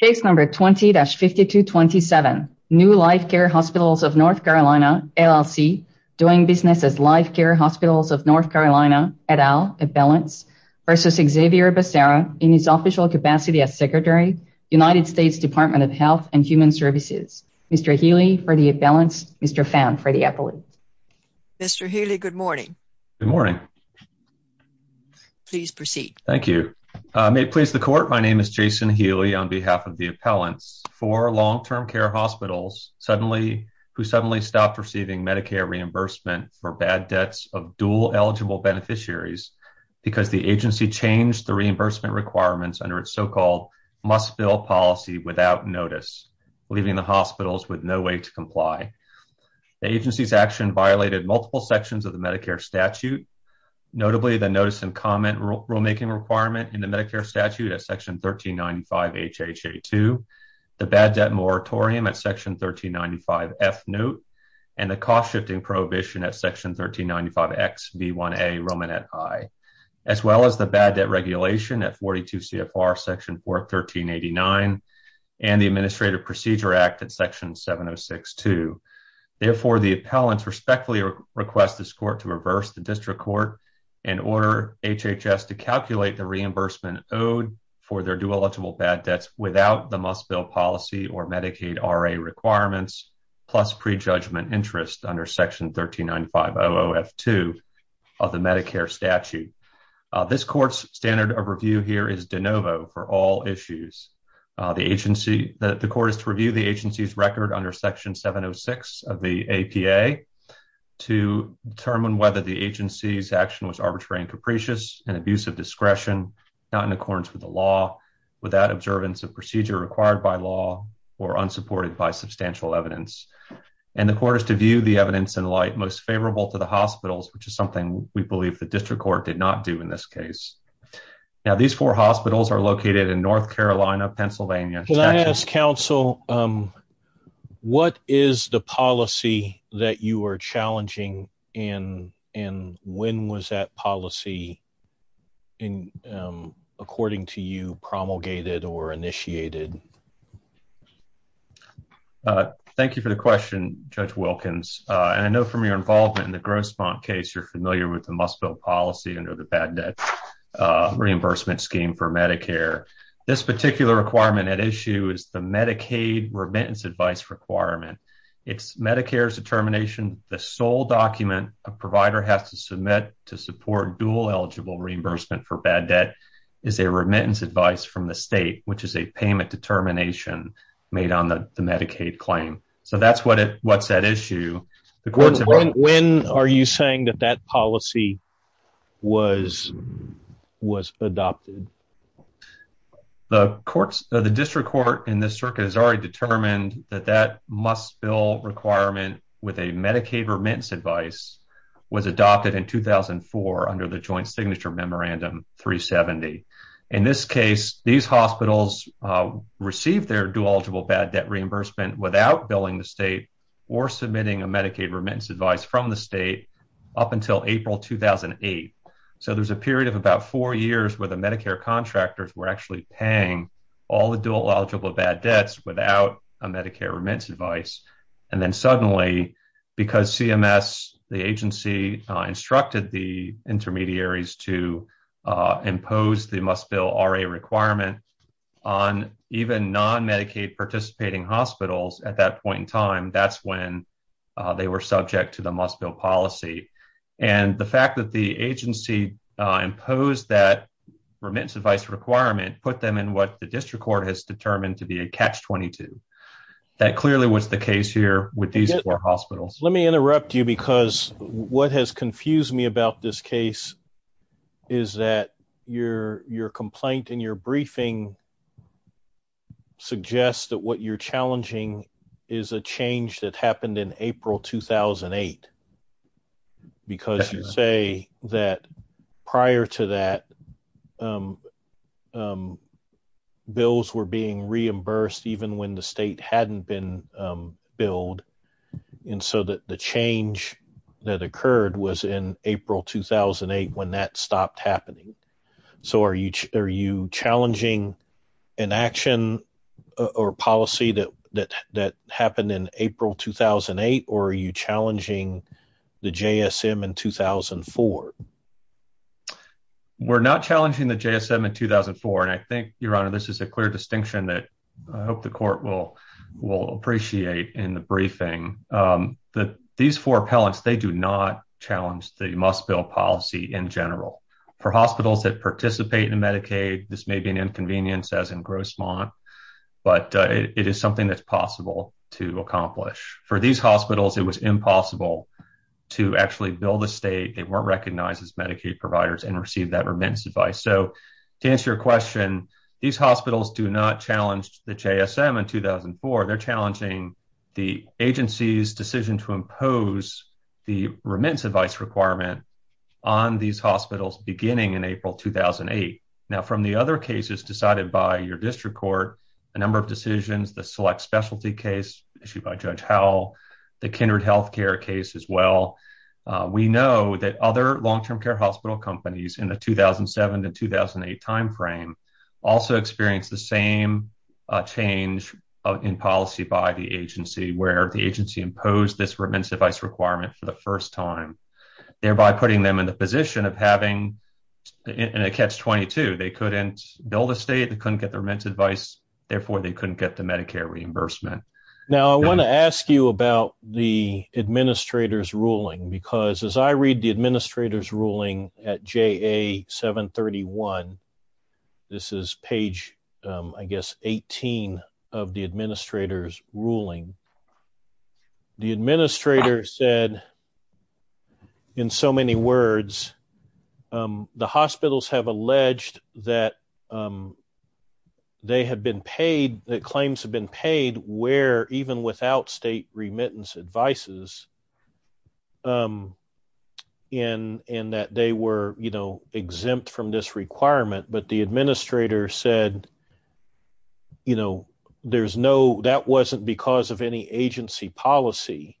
Case number 20-5227, New Life Care Hospitals of North Carolina, LLC, doing business as Life Care Hospitals of North Carolina, et al., at Balance versus Xavier Becerra in his official capacity as Secretary, United States Department of Health and Human Services. Mr. Healy for the at Balance, Mr. Pham for the appellate. Mr. Healy, good morning. Good morning. Please proceed. Thank you. May it please the Court, my name is Jason Healy on behalf of the appellants for long-term care hospitals who suddenly stopped receiving Medicare reimbursement for bad debts of dual eligible beneficiaries because the agency changed the reimbursement requirements under its so-called must-fill policy without notice, leaving the hospitals with no way to comply. The agency's action violated multiple sections of the Medicare statute, notably the notice and comment rulemaking requirement in the Medicare statute at Section 1395 H.H.A.2, the bad debt moratorium at Section 1395 F. Note, and the cost-shifting prohibition at Section 1395 X.V.1a Romanet I, as well as the bad debt regulation at 42 CFR Section 41389, and the Administrative Procedure Act at Section 706-2. Therefore, the appellants respectfully request this Court to reverse the district court and order HHS to calculate the reimbursement owed for their dual eligible bad debts without the must-fill policy or Medicaid R.A. requirements, plus prejudgment interest under Section 1395 O.O.F.2 of the Medicare statute. This Court's standard of review here is de novo for all issues. The Court is to review the agency's record under Section 706 of the APA to determine whether the agency's action was arbitrary and capricious, an abuse of discretion, not in accordance with the law, without observance of procedure required by law, or unsupported by substantial evidence. And the Court is to view the evidence in light most favorable to the hospitals, which is something we believe the district court did not do in this case. Now, these four hospitals are located in North Carolina, Pennsylvania. When I ask counsel, what is the policy that you are challenging, and when was that policy, according to you, promulgated or initiated? Thank you for the question, Judge Wilkins. And I know from your involvement in the Grossmont case you're familiar with the must-fill policy under the bad debt reimbursement scheme for Medicare. This particular requirement at issue is the Medicaid remittance advice requirement. It's Medicare's determination the sole document a provider has to submit to support dual eligible reimbursement for bad debt is a remittance advice from the state, which is a payment determination made on the Medicaid claim. So that's what's at issue. When are you saying that that policy was adopted? The district court in this circuit has already determined that that must-fill requirement with a Medicaid remittance advice was adopted in 2004 under the Joint Signature Memorandum 370. In this case, these hospitals received their dual eligible bad debt reimbursement without billing the state or submitting a Medicaid remittance advice from the state up until April 2008. So there's a period of about four years where the Medicare contractors were actually paying all the dual eligible bad debts without a Medicare remittance advice. And then suddenly, because CMS, the agency, instructed the intermediaries to impose the must-bill RA requirement on even non-Medicaid participating hospitals at that point in time, that's when they were subject to the must-bill policy. And the fact that the agency imposed that remittance advice requirement put them in what the district court has determined to be a catch-22. That clearly was the case here with these four hospitals. Let me interrupt you because what has confused me about this case is that your complaint in your briefing suggests that what you're challenging is a change that happened in April 2008 because you say that prior to that, bills were being reimbursed even when the state hadn't been billed. And so the change that occurred was in April 2008 when that stopped happening. So are you challenging an action or policy that happened in April 2008, or are you challenging the JSM in 2004? We're not challenging the JSM in 2004, and I think, Your Honor, this is a clear distinction that I hope the court will appreciate in the briefing. These four appellants, they do not challenge the must-bill policy in general. For hospitals that participate in Medicaid, this may be an inconvenience, as in Grossmont, but it is something that's possible to accomplish. For these hospitals, it was impossible to actually bill the state. They weren't recognized as Medicaid providers and received that remittance advice. So to answer your question, these hospitals do not challenge the JSM in 2004. They're challenging the agency's decision to impose the remittance advice requirement on these hospitals beginning in April 2008. Now, from the other cases decided by your district court, a number of decisions, the select specialty case issued by Judge Howell, the kindred health care case as well, we know that other long-term care hospital companies in the 2007 to 2008 timeframe also experienced the same change in policy by the agency, where the agency imposed this remittance advice requirement for the first time, thereby putting them in the position of having a catch-22. They couldn't bill the state. They couldn't get their remittance advice. Therefore, they couldn't get the Medicare reimbursement. Now, I want to ask you about the administrator's ruling, because as I read the administrator's ruling at JA 731, this is page, I guess, 18 of the administrator's ruling. The administrator said, in so many words, the hospitals have alleged that claims have been paid, where even without state remittance advices, and that they were exempt from this requirement, but the administrator said that wasn't because of any agency policy.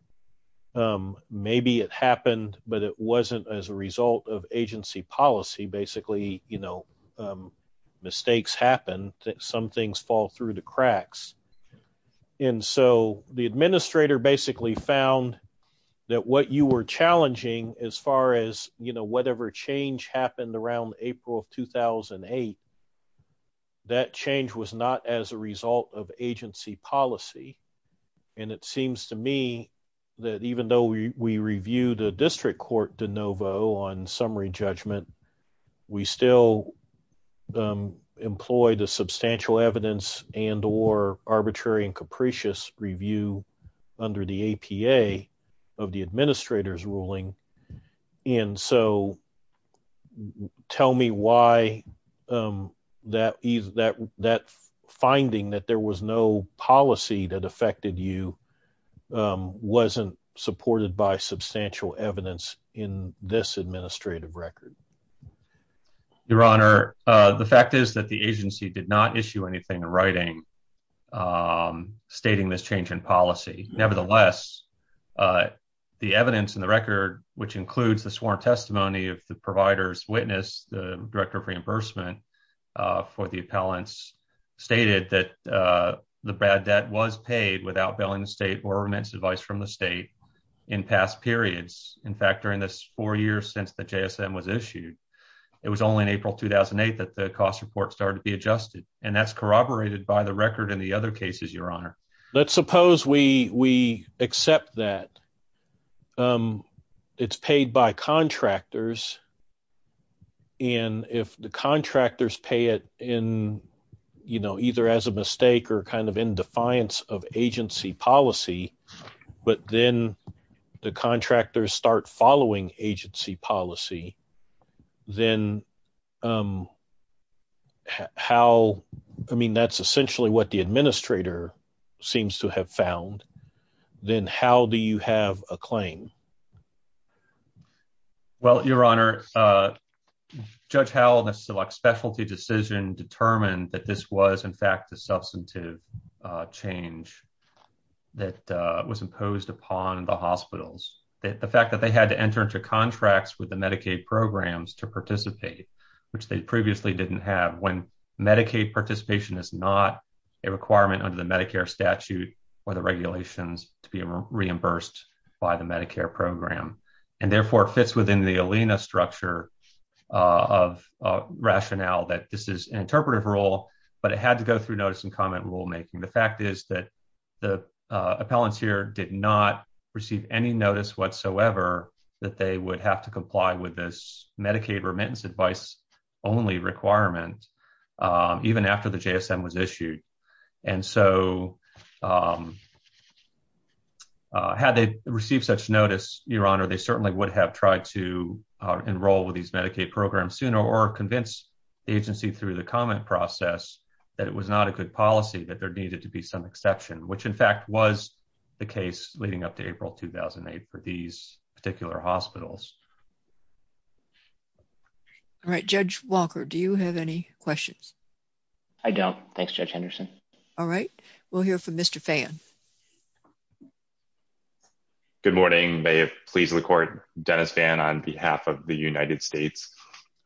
Maybe it happened, but it wasn't as a result of agency policy. Basically, mistakes happen. Some things fall through the cracks. And so the administrator basically found that what you were challenging, as far as whatever change happened around April of 2008, that change was not as a result of agency policy. And it seems to me that even though we reviewed a district court de novo on summary judgment, we still employed a substantial evidence and or arbitrary and capricious review under the APA of the administrator's ruling. And so tell me why that finding that there was no policy that affected you wasn't supported by substantial evidence in this administrative record. Your Honor, the fact is that the agency did not issue anything writing stating this change in policy. Nevertheless, the evidence in the record, which includes the sworn testimony of the provider's witness, the director of reimbursement for the appellants, stated that the bad debt was paid without bailing the state or remittance advice from the state in past periods. In fact, during this four years since the JSM was issued, it was only in April 2008 that the cost report started to be adjusted. And that's corroborated by the record in the other cases, Your Honor. Let's suppose we accept that it's paid by contractors. And if the contractors pay it in, you know, either as a mistake or kind of in defiance of agency policy, but then the contractors start following agency policy, then how – I mean, that's essentially what the administrator seems to have found. Then how do you have a claim? Well, Your Honor, Judge Howell, the specialty decision determined that this was, in fact, a substantive change that was imposed upon the hospitals. The fact that they had to enter into contracts with the Medicaid programs to participate, which they previously didn't have. When Medicaid participation is not a requirement under the Medicare statute or the regulations to be reimbursed by the Medicare program. And therefore, it fits within the ALENA structure of rationale that this is an interpretive rule, but it had to go through notice and comment rulemaking. The fact is that the appellant here did not receive any notice whatsoever that they would have to comply with this Medicaid remittance advice only requirement even after the JSM was issued. And so had they received such notice, Your Honor, they certainly would have tried to enroll with these Medicaid programs sooner or convince the agency through the comment process that it was not a good policy, that there needed to be some exception, which, in fact, was the case leading up to April 2008 for these particular hospitals. All right. Judge Walker, do you have any questions? I don't. Thanks, Judge Henderson. All right. We'll hear from Mr. Phan. Good morning. May it please the court. Dennis Phan on behalf of the United States.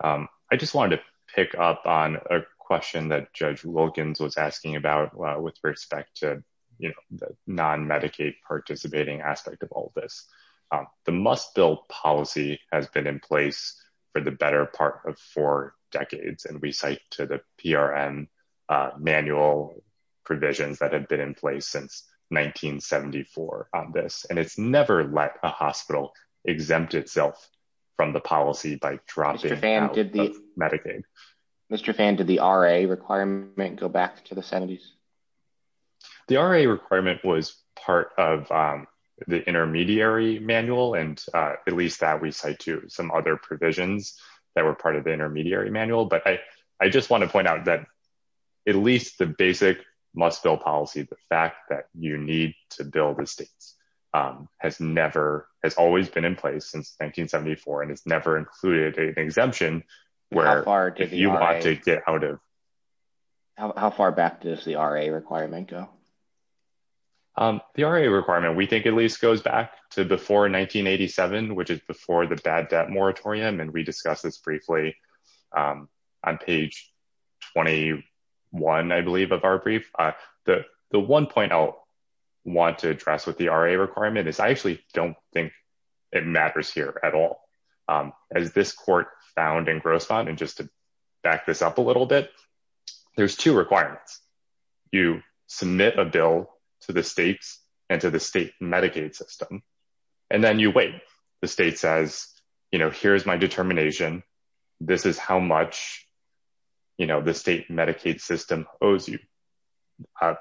I just wanted to pick up on a question that Judge Wilkins was asking about with respect to the non-Medicaid participating aspect of all this. The must-build policy has been in place for the better part of four decades, and we cite to the PRM manual provisions that have been in place since 1974 on this. And it's never let a hospital exempt itself from the policy by dropping out of Medicaid. Mr. Phan, did the R.A. requirement go back to the 70s? The R.A. requirement was part of the intermediary manual, and at least that we cite to some other provisions that were part of the intermediary manual. But I just want to point out that at least the basic must-build policy, the fact that you need to build estates, has never, has always been in place since 1974, and it's never included an exemption where if you want to get out of. How far back does the R.A. requirement go? The R.A. requirement we think at least goes back to before 1987, which is before the bad debt moratorium, and we discussed this briefly on page 21, I believe, of our brief. The one point I want to address with the R.A. requirement is I actually don't think it matters here at all. As this court found in Grosvenor, and just to back this up a little bit, there's two requirements. You submit a bill to the states and to the state Medicaid system, and then you wait. The state says, you know, here's my determination. This is how much, you know, the state Medicaid system owes you.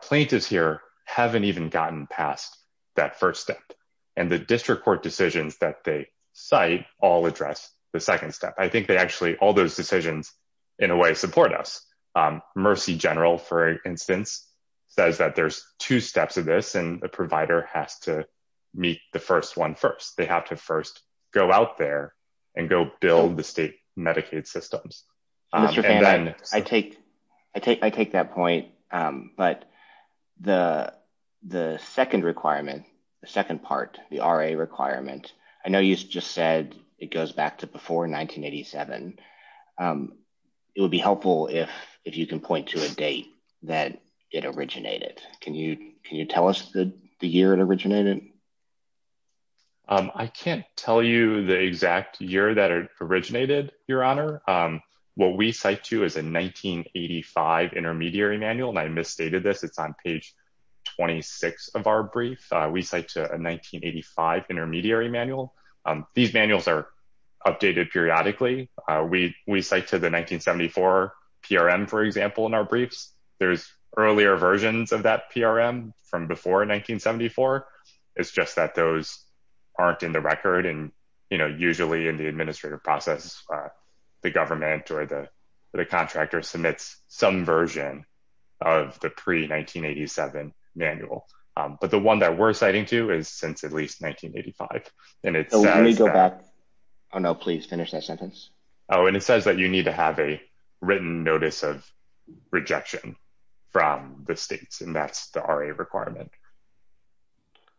Plaintiffs here haven't even gotten past that first step, and the district court decisions that they cite all address the second step. I think they actually, all those decisions, in a way, support us. Mercy General, for instance, says that there's two steps of this, and the provider has to meet the first one first. They have to first go out there and go build the state Medicaid systems. Mr. Pham, I take that point, but the second requirement, the second part, the R.A. requirement, I know you just said it goes back to before 1987. It would be helpful if you can point to a date that it originated. Can you tell us the year it originated? I can't tell you the exact year that it originated, Your Honor. What we cite to is a 1985 intermediary manual, and I misstated this. It's on page 26 of our brief. We cite to a 1985 intermediary manual. These manuals are updated periodically. We cite to the 1974 PRM, for example, in our briefs. There's earlier versions of that PRM from before 1974. It's just that those aren't in the record, and, you know, usually in the administrative process, the government or the contractor submits some version of the pre-1987 manual. But the one that we're citing to is since at least 1985. Let me go back. Oh, no, please finish that sentence. Oh, and it says that you need to have a written notice of rejection from the states, and that's the R.A. requirement.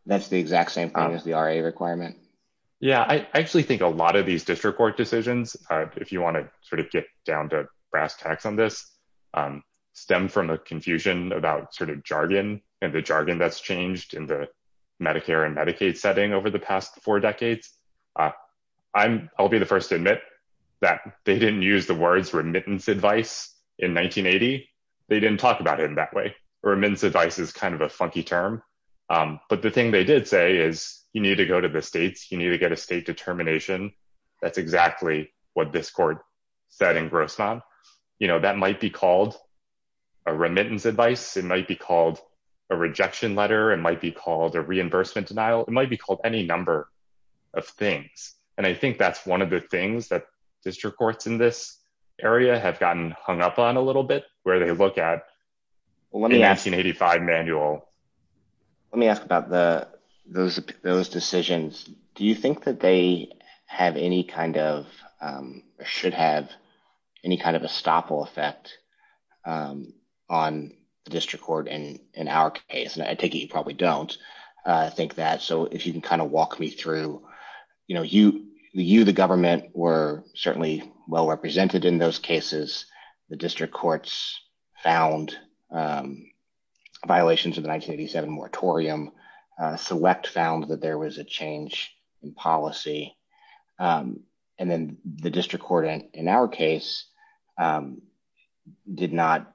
That's the exact same thing as the R.A. requirement. Yeah, I actually think a lot of these district court decisions, if you want to sort of get down to brass tacks on this, stem from a confusion about sort of jargon and the jargon that's changed in the Medicare and Medicaid setting over the past four decades. I'll be the first to admit that they didn't use the words remittance advice in 1980. They didn't talk about it in that way. Remittance advice is kind of a funky term. But the thing they did say is you need to go to the states. You need to get a state determination. That's exactly what this court said in Grossman. You know, that might be called a remittance advice. It might be called a rejection letter. It might be called a reimbursement denial. It might be called any number of things. And I think that's one of the things that district courts in this area have gotten hung up on a little bit, where they look at the 1985 manual. Let me ask about those decisions. Do you think that they have any kind of or should have any kind of estoppel effect on the district court in our case? And I take it you probably don't think that. So if you can kind of walk me through, you know, you the government were certainly well represented in those cases. The district courts found violations of the 1987 moratorium. Select found that there was a change in policy. And then the district court in our case did not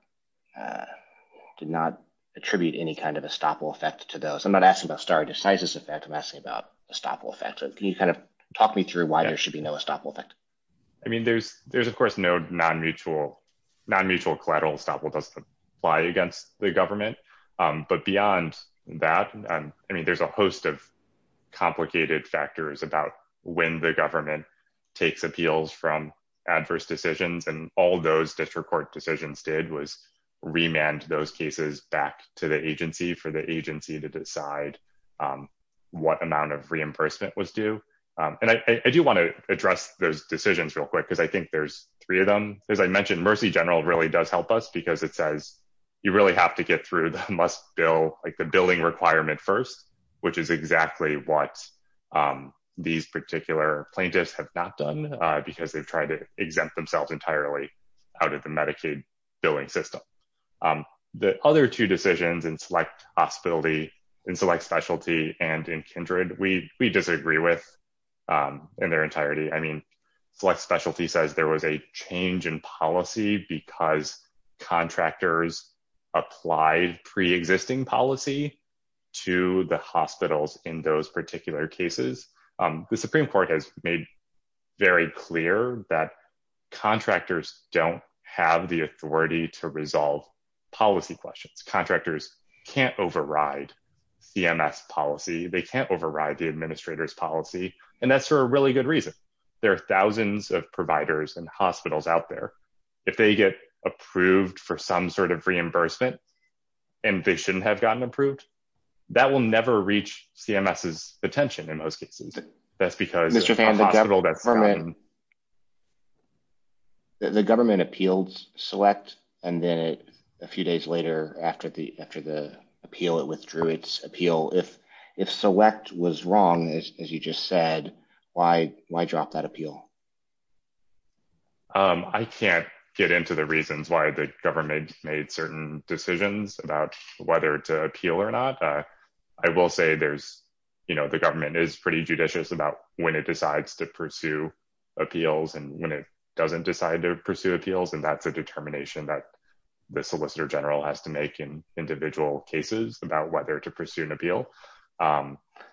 did not attribute any kind of estoppel effect to those. I'm not asking about stare decisis effect. I'm asking about estoppel effect. Can you kind of talk me through why there should be no estoppel effect? I mean, there's there's, of course, no non-mutual non-mutual collateral estoppel does apply against the government. But beyond that, I mean, there's a host of complicated factors about when the government takes appeals from adverse decisions. And all those district court decisions did was remand those cases back to the agency for the agency to decide what amount of reimbursement was due. And I do want to address those decisions real quick, because I think there's three of them. As I mentioned, Mercy General really does help us because it says you really have to get through the must bill like the billing requirement first, which is exactly what these particular plaintiffs have not done because they've tried to exempt themselves entirely out of the Medicaid billing system. The other two decisions and select hospitality and select specialty and in kindred, we we disagree with in their entirety. I mean, select specialty says there was a change in policy because contractors applied pre-existing policy to the hospitals in those particular cases. The Supreme Court has made very clear that contractors don't have the authority to resolve policy questions. Contractors can't override CMS policy. They can't override the administrators policy. And that's for a really good reason. There are thousands of providers and hospitals out there. If they get approved for some sort of reimbursement and they shouldn't have gotten approved, that will never reach CMS's attention in those cases. That's because Mr. The government appeals select. And then a few days later, after the appeal, it withdrew its appeal. If select was wrong, as you just said, why drop that appeal? I can't get into the reasons why the government made certain decisions about whether to appeal or not. I will say there's, you know, the government is pretty judicious about when it decides to pursue appeals and when it doesn't decide to pursue appeals and that's a determination that the solicitor general has to make in individual cases about whether to pursue an appeal.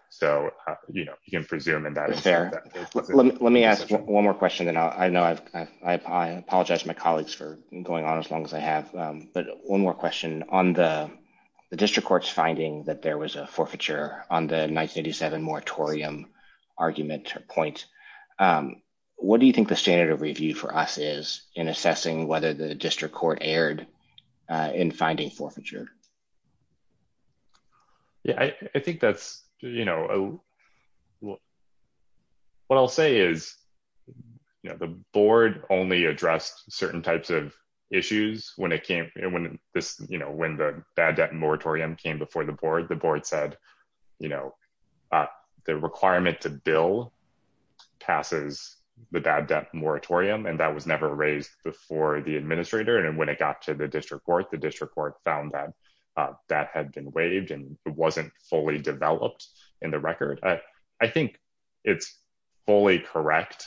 So, you know, you can presume and that is fair. Let me ask one more question that I know I've apologized to my colleagues for going on as long as I have. But one more question on the district court's finding that there was a forfeiture on the 1987 moratorium argument point. What do you think the standard of review for us is in assessing whether the district court erred in finding forfeiture? Yeah, I think that's, you know, What I'll say is, you know, the board only addressed certain types of issues when it came, when this, you know, when the bad debt moratorium came before the board. The board said, You know, the requirement to bill passes the bad debt moratorium and that was never raised before the administrator and when it got to the district court, the district court found that that had been waived and it wasn't fully developed in the record. I think it's fully correct,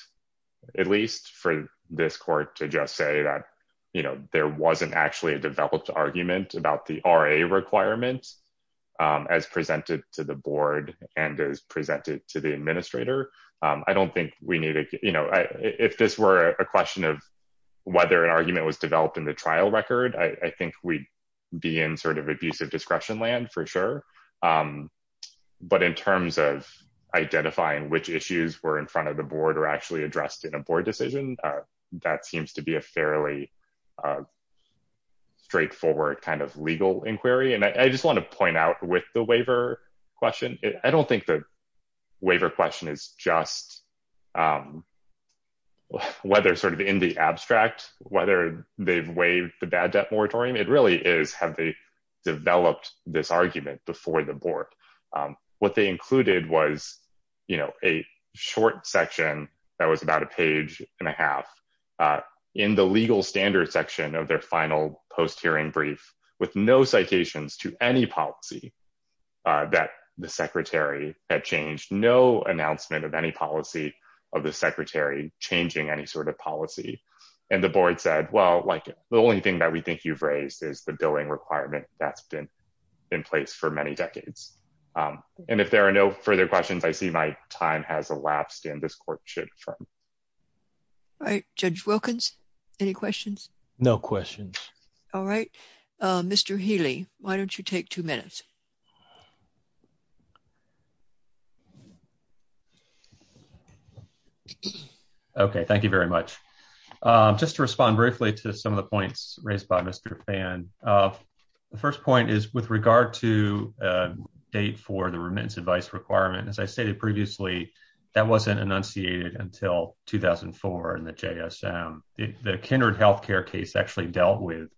at least for this court to just say that, you know, there wasn't actually a developed argument about the RA requirements as presented to the board and as presented to the administrator. I don't think we need to, you know, if this were a question of whether an argument was developed in the trial record, I think we'd be in sort of abusive discretion land for sure. But in terms of identifying which issues were in front of the board or actually addressed in a board decision, that seems to be a fairly straightforward kind of legal inquiry. And I just want to point out with the waiver question, I don't think the waiver question is just whether sort of in the abstract, whether they've waived the bad debt moratorium, it really is have they developed this argument before the board. What they included was, you know, a short section that was about a page and a half in the legal standards section of their final post hearing brief with no citations to any policy that the secretary had changed. No announcement of any policy of the secretary changing any sort of policy. And the board said, well, like the only thing that we think you've raised is the billing requirement that's been in place for many decades. And if there are no further questions, I see my time has elapsed in this courtship. All right, Judge Wilkins, any questions? No questions. All right, Mr. Healy, why don't you take two minutes. Okay, thank you very much. Just to respond briefly to some of the points raised by Mr. Fan. The first point is with regard to date for the remittance advice requirement, as I stated previously, that wasn't enunciated until 2004 in the JSM. The Kindred Healthcare case actually dealt with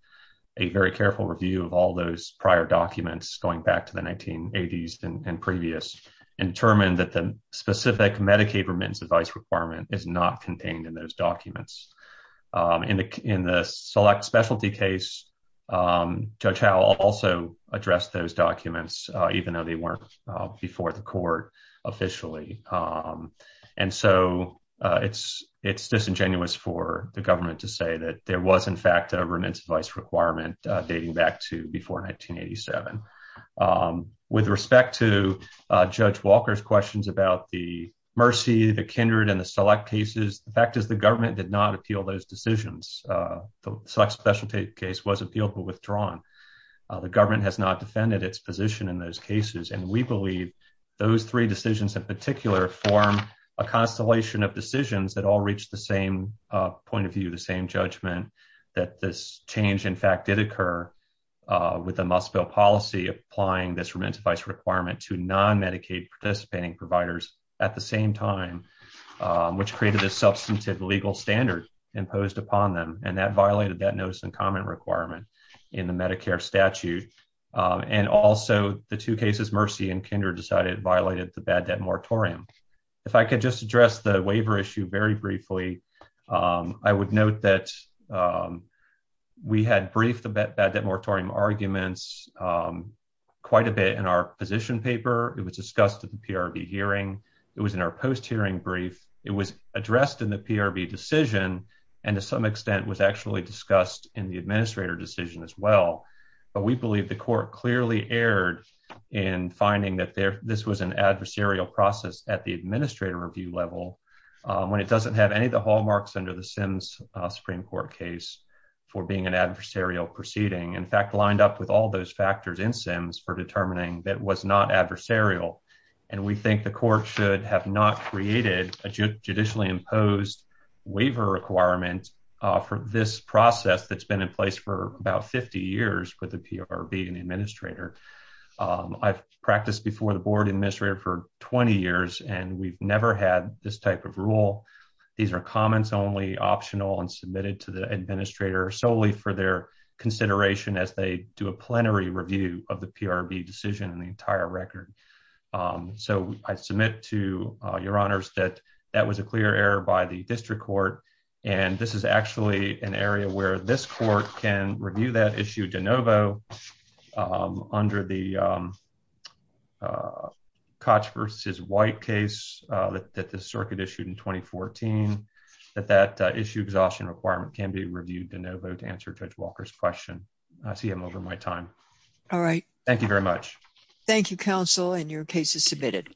a very careful review of all those prior documents going back to the 1980s and previous and determined that the specific Medicaid remittance advice requirement is not contained in those documents. In the select specialty case, Judge Howell also addressed those documents, even though they weren't before the court officially. And so it's disingenuous for the government to say that there was in fact a remittance advice requirement dating back to before 1987. With respect to Judge Walker's questions about the Mercy, the Kindred, and the select cases, the fact is the government did not appeal those decisions. The select specialty case was appealed but withdrawn. The government has not defended its position in those cases, and we believe those three decisions in particular form a constellation of decisions that all reach the same point of view, the same judgment, that this change in fact did occur with a must-fill policy. Applying this remittance advice requirement to non-Medicaid participating providers at the same time, which created a substantive legal standard imposed upon them, and that violated that notice and comment requirement in the Medicare statute. And also, the two cases, Mercy and Kindred, decided it violated the bad debt moratorium. If I could just address the waiver issue very briefly, I would note that we had briefed the bad debt moratorium arguments quite a bit in our position paper. It was discussed at the PRB hearing. It was in our post-hearing brief. It was addressed in the PRB decision, and to some extent was actually discussed in the administrator decision as well. But we believe the court clearly erred in finding that this was an adversarial process at the administrator review level, when it doesn't have any of the hallmarks under the Sims Supreme Court case for being an adversarial proceeding. In fact, lined up with all those factors in Sims for determining that was not adversarial. And we think the court should have not created a judicially imposed waiver requirement for this process that's been in place for about 50 years with the PRB and the administrator. I've practiced before the board administrator for 20 years, and we've never had this type of rule. These are comments only, optional, and submitted to the administrator solely for their consideration as they do a plenary review of the PRB decision and the entire record. So I submit to your honors that that was a clear error by the district court. And this is actually an area where this court can review that issue de novo under the Koch versus White case that the circuit issued in 2014, that that issue exhaustion requirement can be reviewed de novo to answer Judge Walker's question. I see him over my time. All right. Thank you very much. Thank you, counsel, and your case is submitted.